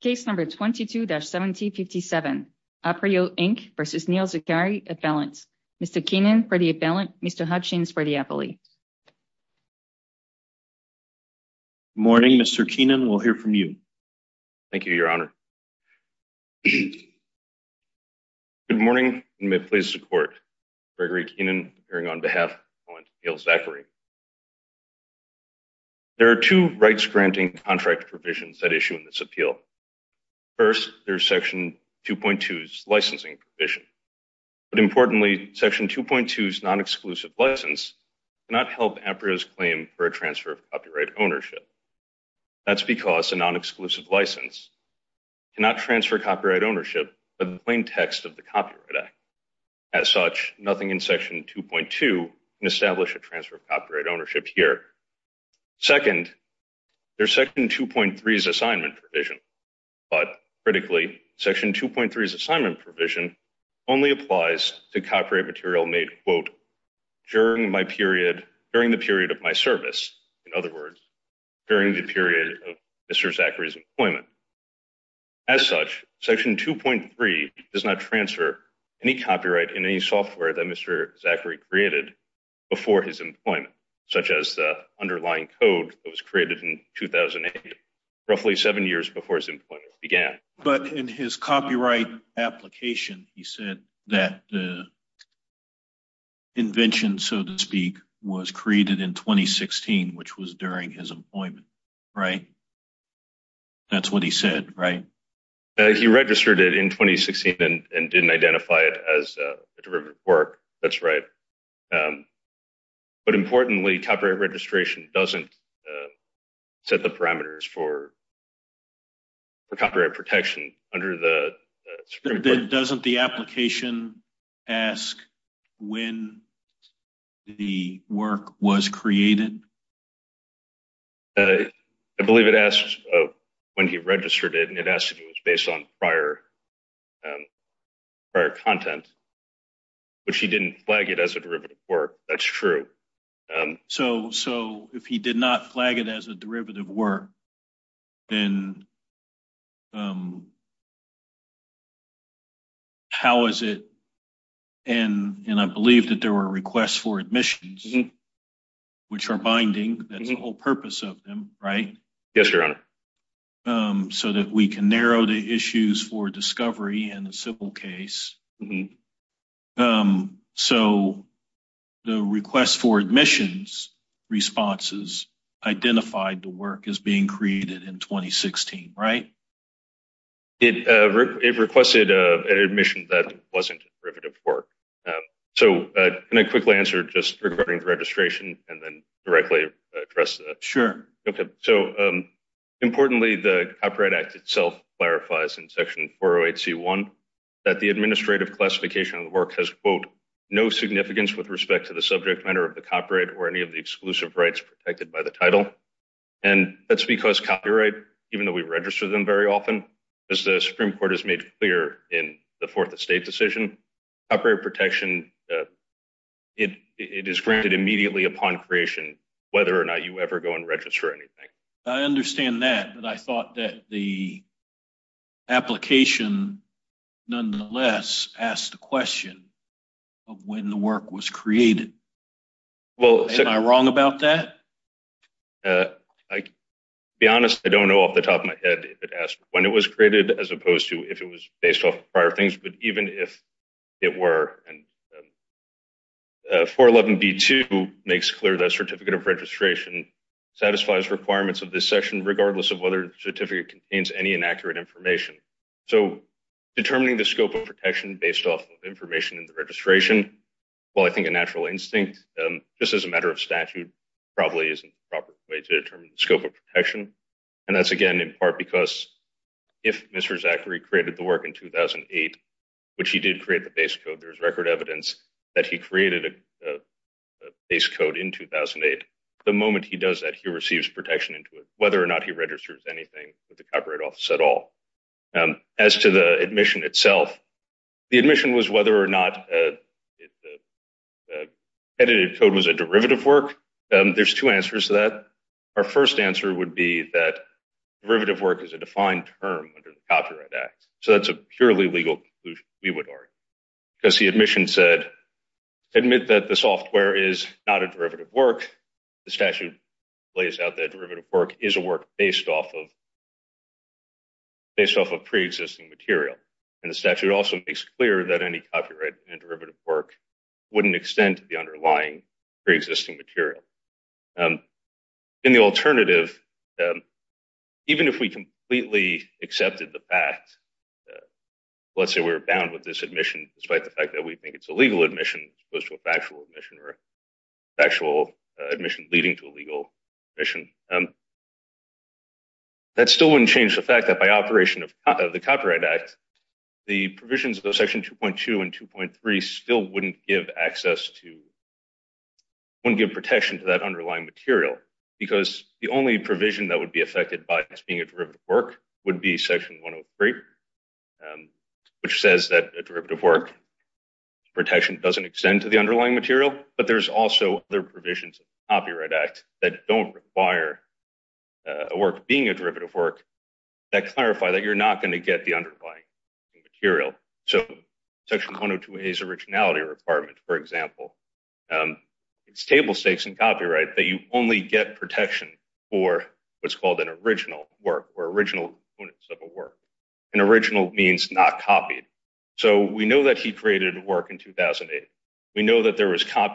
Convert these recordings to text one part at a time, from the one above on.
Case number 22-1757, Aprio, Inc. v. Neil Zaccari, Appellant. Mr. Keenan for the Appellant, Mr. Hutchings for the Appellee. Good morning, Mr. Keenan. We'll hear from you. Thank you, Your Honor. Good morning, and may it please the Court. Gregory Keenan, appearing on behalf of my opponent, Neil Zaccari. There are two rights-granting contract provisions that issue in this appeal. First, there's Section 2.2's licensing provision. But importantly, Section 2.2's non-exclusive license cannot help Aprio's claim for a transfer of copyright ownership. That's because a non-exclusive license cannot transfer copyright ownership by the plain text of the Copyright Act. As such, nothing in Section 2.2 can establish transfer of copyright ownership here. Second, there's Section 2.3's assignment provision. But critically, Section 2.3's assignment provision only applies to copyright material made, quote, during the period of my service. In other words, during the period of Mr. Zaccari's employment. As such, Section 2.3 does not transfer any copyright in any software that Mr. Zaccari created before his employment, such as the underlying code that was created in 2008, roughly seven years before his employment began. But in his copyright application, he said that the invention, so to speak, was created in 2016, which was during his employment, right? That's what he said, right? He registered it in 2016 and didn't identify it as a derivative work. That's right. But importantly, copyright registration doesn't set the parameters for copyright protection under the Supreme Court. Doesn't the application ask when the work was created? I believe it asks when he registered it, and it asks if it was based on prior content, which he didn't flag it as a derivative work. That's true. So if he did not flag it as a derivative work, then how is it? And I believe that there were requests for admissions, which are binding. That's the whole purpose of them, right? Yes, Your Honor. So that we can narrow the issues for discovery in a civil case. So the request for admissions responses identified the work as being created in 2016, right? It requested an admission that wasn't a derivative work. So can I quickly answer just regarding registration and then directly address that? Sure. Okay. So importantly, the Copyright Act itself clarifies in Section 408C1 that the administrative classification of the work has, quote, no significance with respect to the subject matter of the copyright or any of the exclusive rights protected by the title. And that's because copyright, even though we register them very often, as the Supreme Court has made clear in the Fourth Estate decision, copyright protection, it is granted immediately upon creation, whether or not you ever go and register anything. I understand that, but I thought that the application nonetheless asked the question of when the work was created. Am I wrong about that? I'll be honest. I don't know off the top of my head if it asked when it was created, as opposed to if it was based off prior things. But even if it were, and 411B2 makes clear that certificate of registration satisfies requirements of this section, regardless of whether the certificate contains any inaccurate information. So determining the scope of protection based off of information in the registration, well, I think a natural instinct, just as a matter of statute, probably isn't the proper way to determine the scope of protection. And that's, again, in part because if Mr. Zachary created the work in 2008, which he did create the base code, there's record evidence that he created a base code in 2008. The moment he does that, he receives protection into it, whether or not he registers anything with the Copyright Office at all. As to the admission itself, the admission was whether or not edited code was a derivative work. There's two answers to that. Our first answer would be that derivative work is a defined term under the Copyright Act. So that's a purely legal conclusion, we would argue. Because the admission said, admit that the software is not a derivative work. The statute lays out that derivative work is a work based off of pre-existing material. And the statute also makes clear that any copyright and derivative work wouldn't extend to the underlying pre-existing material. In the alternative, even if we completely accepted the fact, let's say we're bound with this admission despite the fact that we think it's a legal admission as opposed to a factual admission or factual admission leading to a legal admission, that still wouldn't change the fact that by operation of the Copyright Act, the provisions of Section 2.2 and 2.3 still wouldn't give access to, wouldn't give protection to that underlying material. Because the only provision that would be affected by this being a derivative work would be Section 103, which says that a derivative work protection doesn't extend to the underlying material, but there's also other provisions of the Copyright Act that don't require a work being a derivative work that clarify that you're not going to get the underlying material. So Section 102A's originality requirement, for example, it's table stakes in copyright that you only get protection for what's called an original work or original components of a work. And original means not copied. So we know that he created a work in 2008. We know that there was stuff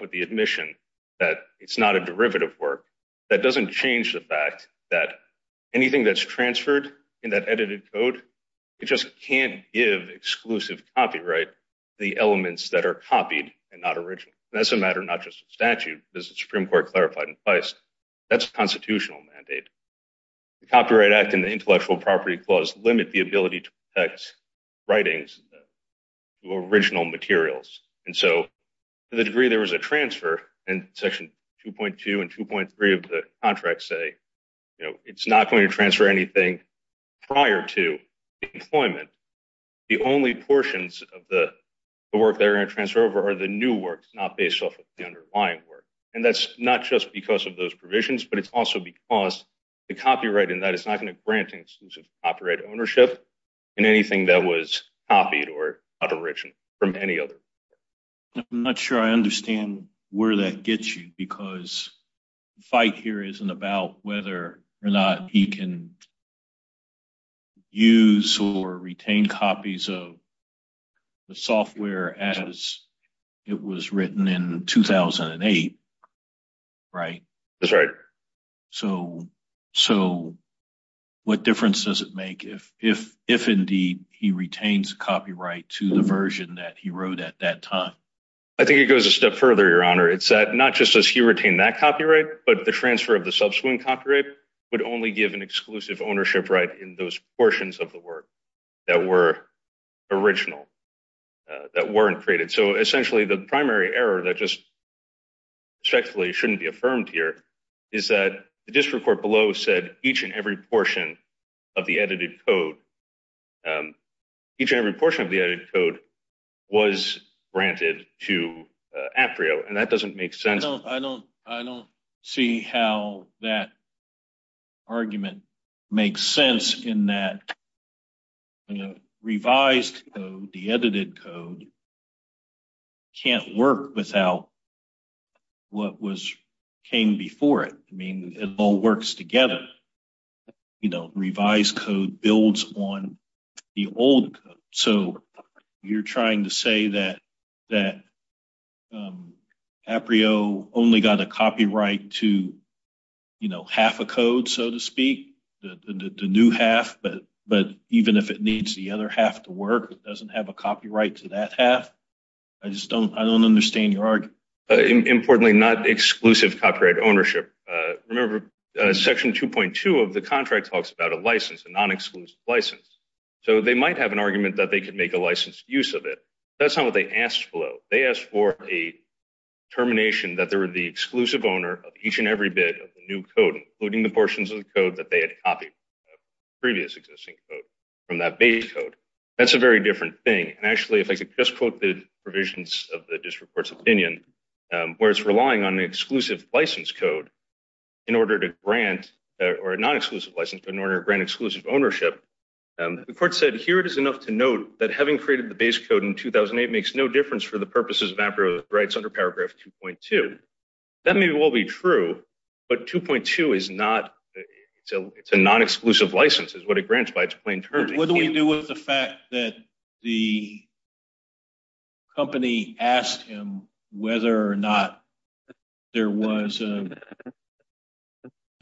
with the admission that it's not a derivative work. That doesn't change the fact that anything that's transferred in that edited code, it just can't give exclusive copyright the elements that are copied and not original. That's a matter not just of statute, as the Supreme Court clarified in Feist, that's a constitutional mandate. The Copyright Act and the Intellectual Property Clause limit the ability to protect writings to original materials. And so to the degree there was a transfer in Section 2.2 and 2.3 of the contract say, you know, it's not going to transfer anything prior to employment. The only portions of the work they're going to transfer over are the new works, not based off of the underlying work. And that's not just because of those provisions, but it's also because the copyright in that is not going to grant exclusive copyright ownership in anything that was copied or not original from any other. I'm not sure I understand where that gets you, because the fight here isn't about whether or not he can use or retain copies of the software as it was written in 2008, right? That's right. So what difference does it make if indeed he retains copyright to the version that he wrote at that time? I think it goes a step further, Your Honor. It's that not just does he retain that copyright, but the transfer of the subsequent copyright would only give an exclusive ownership right in those portions of the work that were original, that weren't created. So essentially the primary error that just respectfully shouldn't be affirmed here is that the district court below said each and every portion of the edited code, each and every portion of the edited code was granted to APRIO, and that doesn't make sense. I don't see how that argument makes sense in that revised code, the edited code, can't work without what came before it. I mean, it all works together. Revised code builds on the old code. So you're trying to say that APRIO only got a copyright to, you know, half a code, so to speak, the new half, but even if it needs the other half to work, it doesn't have a copyright to that half? I just don't understand your argument. Importantly, not exclusive copyright ownership. Remember, section 2.2 of the contract talks about a license, a non-exclusive license. So they might have an argument that they could make a licensed use of it. That's not what they asked for. They asked a termination that they were the exclusive owner of each and every bit of the new code, including the portions of the code that they had copied previous existing code from that base code. That's a very different thing. And actually, if I could just quote the provisions of the district court's opinion, where it's relying on an exclusive license code in order to grant, or a non-exclusive license, but in order to grant exclusive ownership, the court said, here it is enough to note that having created the base code in 2008 makes no difference for purposes of amperior rights under paragraph 2.2. That maybe will be true, but 2.2 is not, it's a non-exclusive license. It's what it grants by its plain term. What do we do with the fact that the company asked him whether or not there was,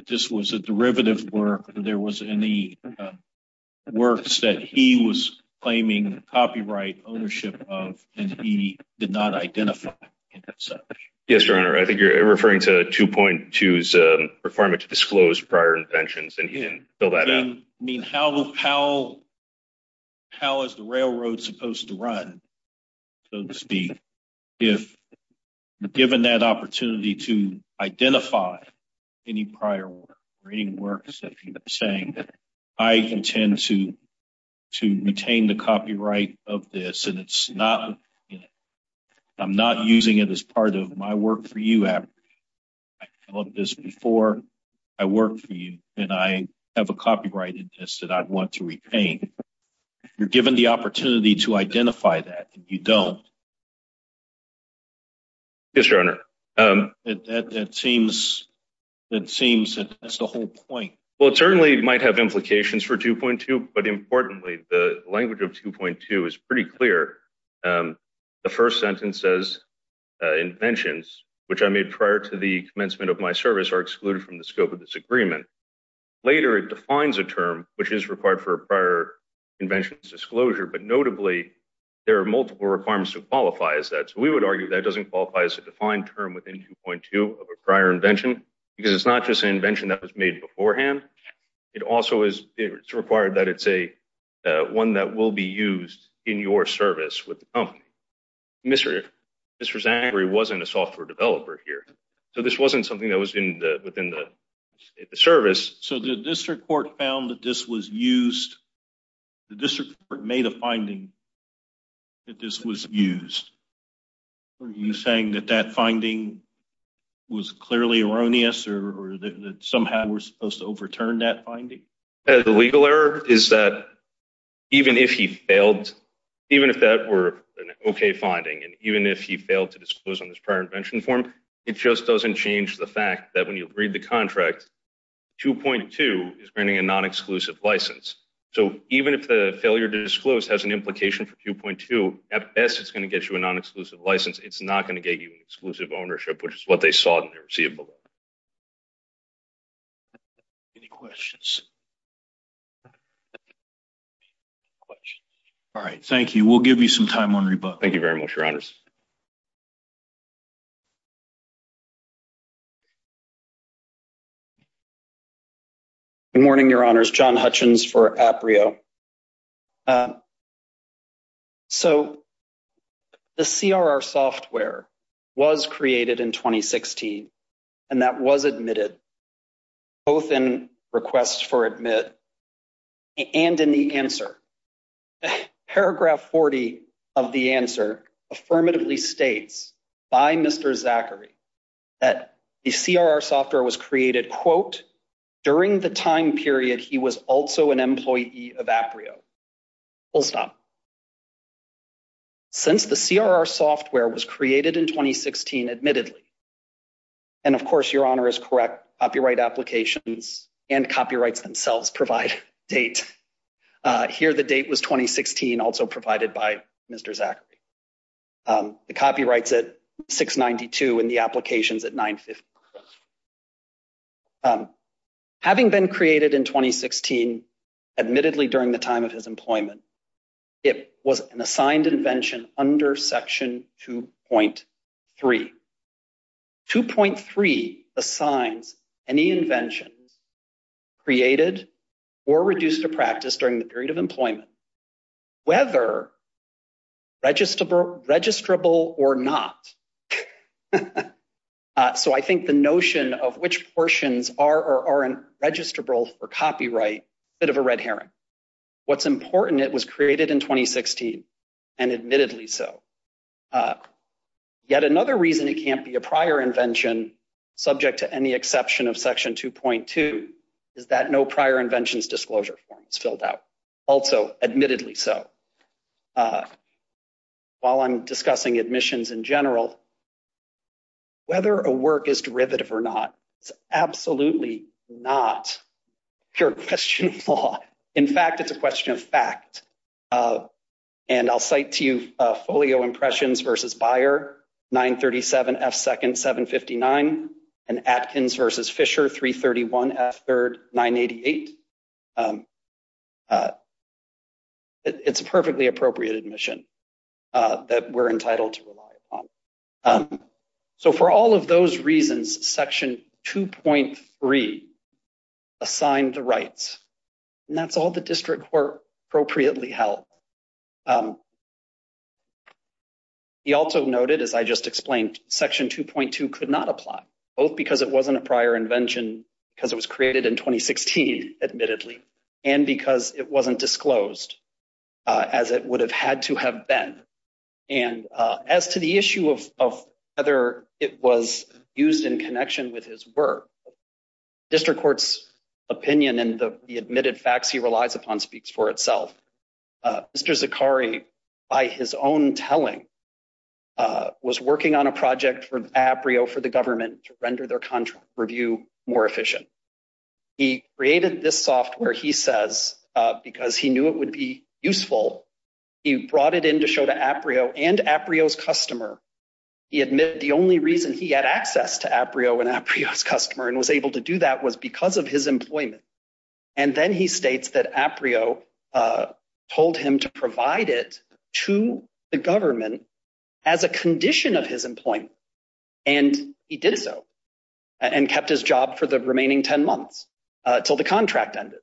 this was a derivative work, there was any works that he was claiming copyright ownership of, and he did not identify any such? Yes, your honor, I think you're referring to 2.2's requirement to disclose prior inventions, and he didn't fill that out. I mean, how is the railroad supposed to run, so to speak, if given that opportunity to identify any prior works, saying, I intend to retain the copyright of this, and it's not, I'm not using it as part of my work for you. I developed this before I worked for you, and I have a copyright in this that I want to repaint. You're given the opportunity to identify that, you don't. Yes, your honor. It seems that that's the whole point. Well, it certainly might have implications for 2.2, but importantly, the language of 2.2 is pretty clear. The first sentence says, inventions, which I made prior to the commencement of my service, are excluded from the scope of this agreement. Later, it defines a term which is required for requirements to qualify as that. So, we would argue that doesn't qualify as a defined term within 2.2 of a prior invention, because it's not just an invention that was made beforehand. It also is, it's required that it's a, one that will be used in your service with the company. Mr. Zandri wasn't a software developer here, so this wasn't something that was in the, within the service. So, the district court found that this was used, the district court made a finding that this was used. Are you saying that that finding was clearly erroneous, or that somehow we're supposed to overturn that finding? The legal error is that even if he failed, even if that were an okay finding, and even if he failed to disclose on this prior invention form, it just doesn't change the fact that when you read the contract, 2.2 is granting a non-exclusive license. So, even if the failure to disclose has an implication for 2.2, at best, it's going to get you a non-exclusive license. It's not going to get you an exclusive ownership, which is what they saw in the receipt below. Any questions? All right. Thank you. We'll give you some time on rebuttal. Thank you very much, your honors. Good morning, your honors. John Hutchins for APRIO. So, the CRR software was created in 2016, and that was admitted, both in requests for admit and in the answer. Paragraph 40 of the answer affirmatively states by Mr. Zachary that the CRR software was created, quote, during the time period he was also an employee of APRIO. Full stop. Since the CRR software was created in 2016, admittedly, and, of course, your honor is correct, copyright applications and copyrights themselves provide date. Here, the date was 2016, also provided by Mr. Zachary. The copyrights at 692 and the applications at 950. Having been created in 2016, admittedly, during the time of his employment, it was an assigned invention under section 2.3. 2.3 assigns any inventions created or reduced to practice during the period of employment, whether registrable or not. So, I think the notion of which portions are or aren't registrable for copyright, a bit of a red herring. What's important, it was created in 2016, and admittedly so. Yet another reason it can't be a prior invention, subject to any exception of section 2.2, is that no prior inventions disclosure form is filled out. Also, admittedly so. While I'm discussing admissions in general, whether a work is derivative or not is absolutely not a question of law. In fact, it's a question of fact. And I'll cite to you Folio Impressions v. Byer, 937 F. 2nd, 759, and Atkins v. Fisher, 331 F. 3rd, 988. It's a perfectly appropriate admission that we're entitled to rely upon. So, for all of those reasons, section 2.3 assigned the rights. And that's all the also noted, as I just explained, section 2.2 could not apply, both because it wasn't a prior invention, because it was created in 2016, admittedly, and because it wasn't disclosed as it would have had to have been. And as to the issue of whether it was used in connection with his work, district court's opinion and the admitted facts he relies upon speaks for itself. Mr. Zakari, by his own telling, was working on a project for APRIO for the government to render their contract review more efficient. He created this software, he says, because he knew it would be useful. He brought it in to show to APRIO and APRIO's customer. He admitted the only reason he had access to APRIO and APRIO's customer and was able to do that was because of his employment. And then he states that APRIO told him to provide it to the government as a condition of his employment. And he did so and kept his job for the remaining 10 months until the contract ended.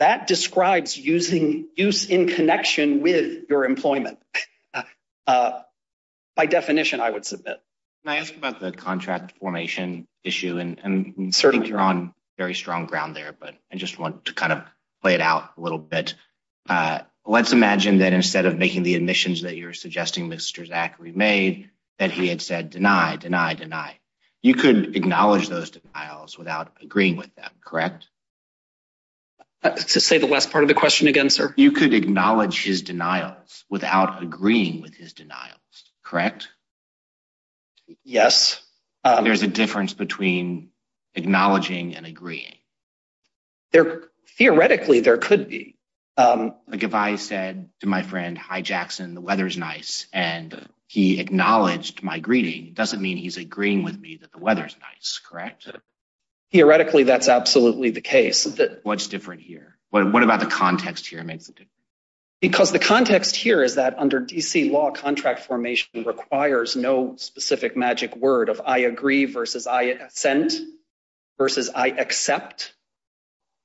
That describes using use in connection with your employment. By definition, I would submit. Can I ask about the contract formation issue? And I think you're on very strong ground there, but I just want to kind of play it out a little bit. Let's imagine that instead of making the admissions that you're suggesting, Mr. Zakari made, that he had said, deny, deny, deny. You could acknowledge those denials without agreeing with them, correct? Say the last part of the question again, sir. You could acknowledge his denials without agreeing with his denials, correct? Yes. There's a difference between acknowledging and agreeing. Theoretically, there could be. But if I said to my friend, hi, Jackson, the weather's nice, and he acknowledged my greeting, it doesn't mean he's agreeing with me that the weather's nice, correct? Theoretically, that's absolutely the case. What's different here? What about the requires no specific magic word of I agree versus I assent versus I accept?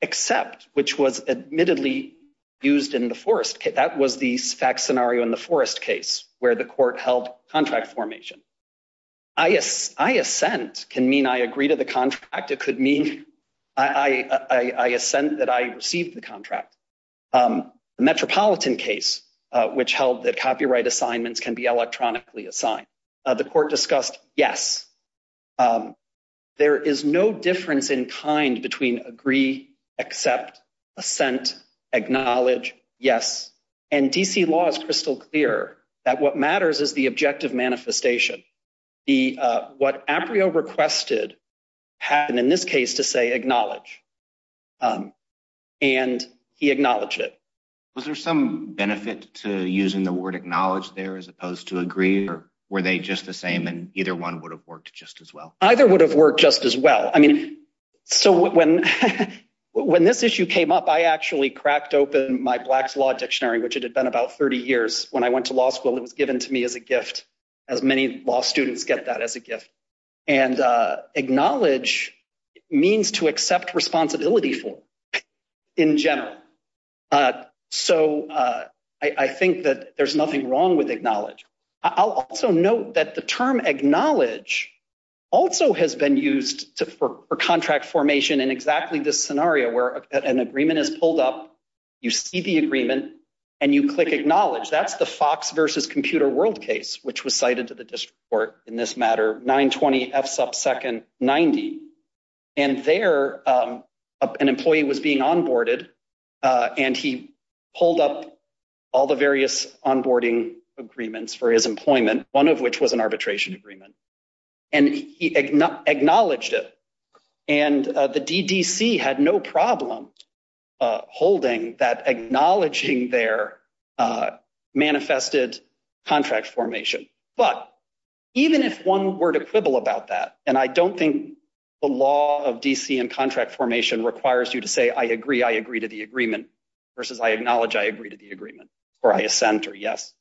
Except, which was admittedly used in the forest. That was the fact scenario in the forest case where the court held contract formation. I assent can mean I agree to the contract. It could mean I assent that I received the contract. The Metropolitan case, which held that copyright assignments can be electronically assigned. The court discussed, yes. There is no difference in kind between agree, accept, assent, acknowledge, yes. And D.C. law is crystal clear that what matters is the objective manifestation. What Aprio requested happened in this case to say acknowledge. And he acknowledged it. Was there some benefit to using the word acknowledge there as opposed to agree or were they just the same and either one would have worked just as well? Either would have worked just as well. I mean, so when when this issue came up, I actually cracked open my Black's Law Dictionary, which it had been about 30 years. When I went to law school, it was given to me as a gift as many law students get that as a gift. And acknowledge means to accept responsibility for in general. So I think that there's nothing wrong with acknowledge. I'll also note that the term acknowledge also has been used for contract formation in exactly this scenario where an agreement is pulled up. You see the agreement and you click acknowledge. That's the Fox versus Computer World case, which was cited to the district court in this matter, 920 F sub second 90. And there an employee was being onboarded and he pulled up all the various onboarding agreements for his employment, one of which was an arbitration agreement. And he acknowledged it. And the DDC had no problem holding that acknowledging their manifested contract formation. But even if one were to quibble about that, and I don't think the law of DC and contract formation requires you to say, I agree, I agree to the agreement versus I acknowledge, I agree to the agreement or I assent or yes.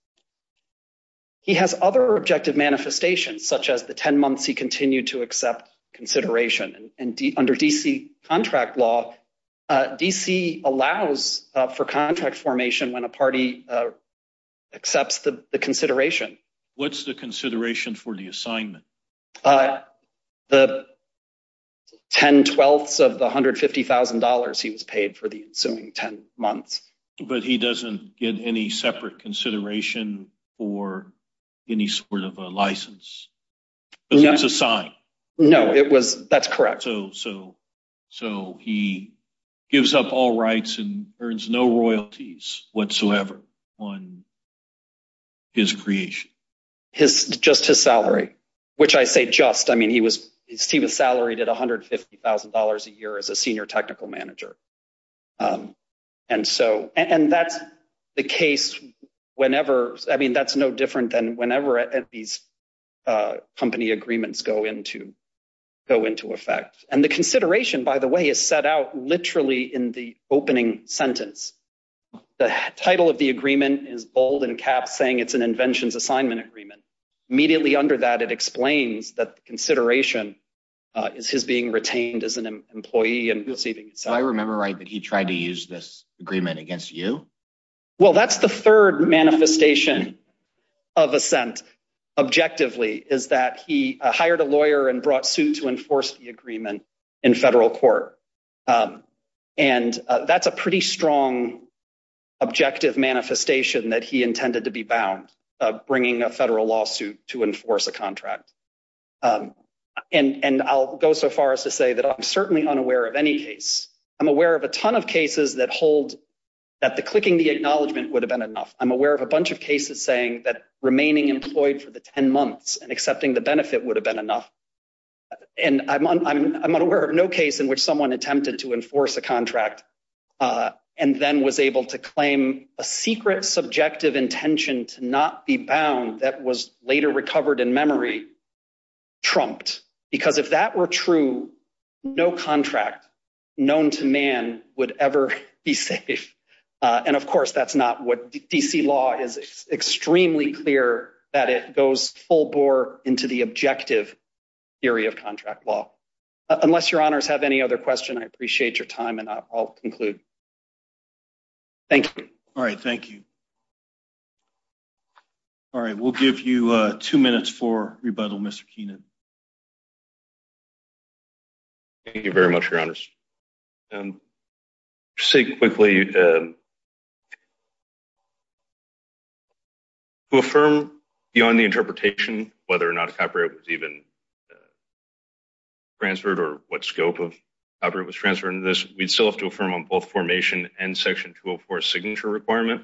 He has other objective manifestations such as the 10 months he continued to accept consideration and under DC contract law, DC allows for contract formation when a party accepts the consideration. What's the consideration for the assignment? Uh, the 10 twelfths of the $150,000 he was paid for the ensuing 10 months, but he doesn't get any separate consideration for any sort of a license. That's a sign. No, it was. That's correct. So, so, so he gives up all rights and earns no royalties whatsoever on his creation. His, just his salary, which I say, just, I mean, he was, he was salaried at $150,000 a year as a senior technical manager. And so, and that's the case whenever, I mean, that's no different than whenever these company agreements go into, go into effect. And the consideration, by the way, is set out literally in the opening sentence. The title of the agreement is bold and caps saying it's an inventions assignment agreement. Immediately under that, it explains that consideration is his being retained as an employee and receiving. So I remember, right. But he tried to use this agreement against you. Well, that's the third manifestation of assent. Objectively is that he hired a lawyer and brought suit to enforce the agreement in federal court. And that's a pretty strong objective manifestation that he intended to be bound of bringing a federal lawsuit to enforce a contract. And I'll go so far as to say that I'm certainly unaware of any case. I'm aware of a ton of cases that hold that the clicking, the acknowledgement would have been enough. I'm aware of a bunch of cases saying that remaining employed for the 10 months and accepting the benefit would have been enough. And I'm not aware of no case in which someone attempted to enforce a contract and then was able to claim a secret subjective intention to not be bound that was later recovered in memory. Trumped, because if that were true, no contract known to man would ever be safe. And of course, that's not what D.C. law is extremely clear that it goes full bore into the objective area of contract law. Unless your honors have any other question, I appreciate your time and I'll conclude. Thank you. All right. Thank you. All right. We'll give you two minutes for rebuttal, Mr. Keenan. Thank you very much, your honors. Say quickly. To affirm beyond the interpretation, whether or not a copyright was even transferred or what scope of copyright was transferred into this, we'd still have to affirm on both formation and Section 204 signature requirement.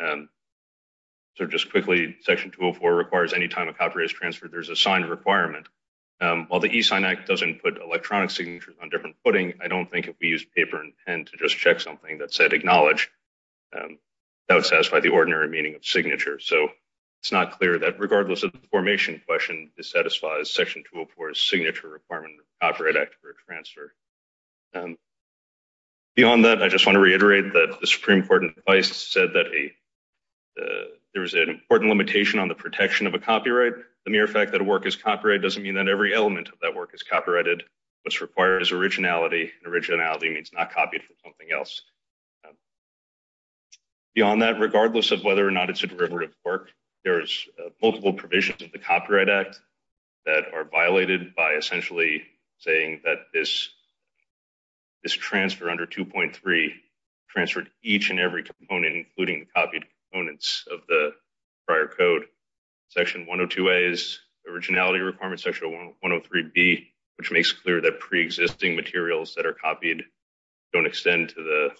So just quickly, Section 204 requires any time a copyright is transferred, there's a signed requirement. While the E-Sign Act doesn't put electronic signatures on different footing, I don't think we used paper and pen to just check something that said acknowledge. That would satisfy the ordinary meaning of signature. So it's not clear that regardless of the formation question, this satisfies Section 204's signature requirement of the Copyright Act for a transfer. Beyond that, I just want to reiterate that the Supreme Court in twice said that there was an important limitation on the protection of a copyright. The mere fact that a work is copyright doesn't mean that every element of that work is copyrighted. What's required is originality. Originality means not copied from something else. Beyond that, regardless of whether or not it's a derivative work, there's multiple provisions of the Copyright Act that are violated by essentially saying that this transfer under 2.3 transferred each and every component, including the copied components of the prior code. Section 102A's originality requirement, Section 103B, which makes clear that pre-existing materials that are copied don't extend to the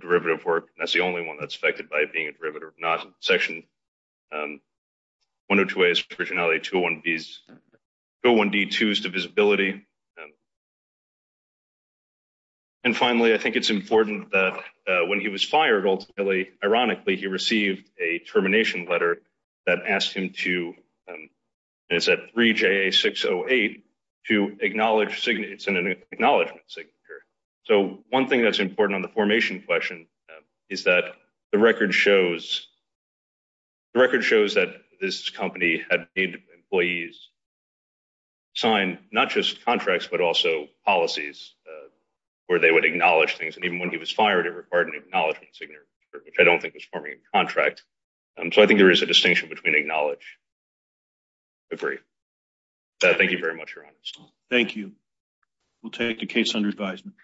derivative work. That's the only one that's affected by being a derivative, not Section 102A's originality, 201B's, 201D2's divisibility. And finally, I think it's important that when he was fired, ultimately, ironically, he received a termination letter that asked him to, and it's at 3JA608, to acknowledge signature. It's an acknowledgement signature. So one thing that's important on the formation question is that the record shows that this company had made employees sign not just contracts, but also policies where they would acknowledge things. And even when he was fired, it required an acknowledgement signature, which I don't think was forming a contract. So I think there is a distinction between acknowledge and agree. Thank you very much, Your Honor. Thank you. We'll take the case under advisement.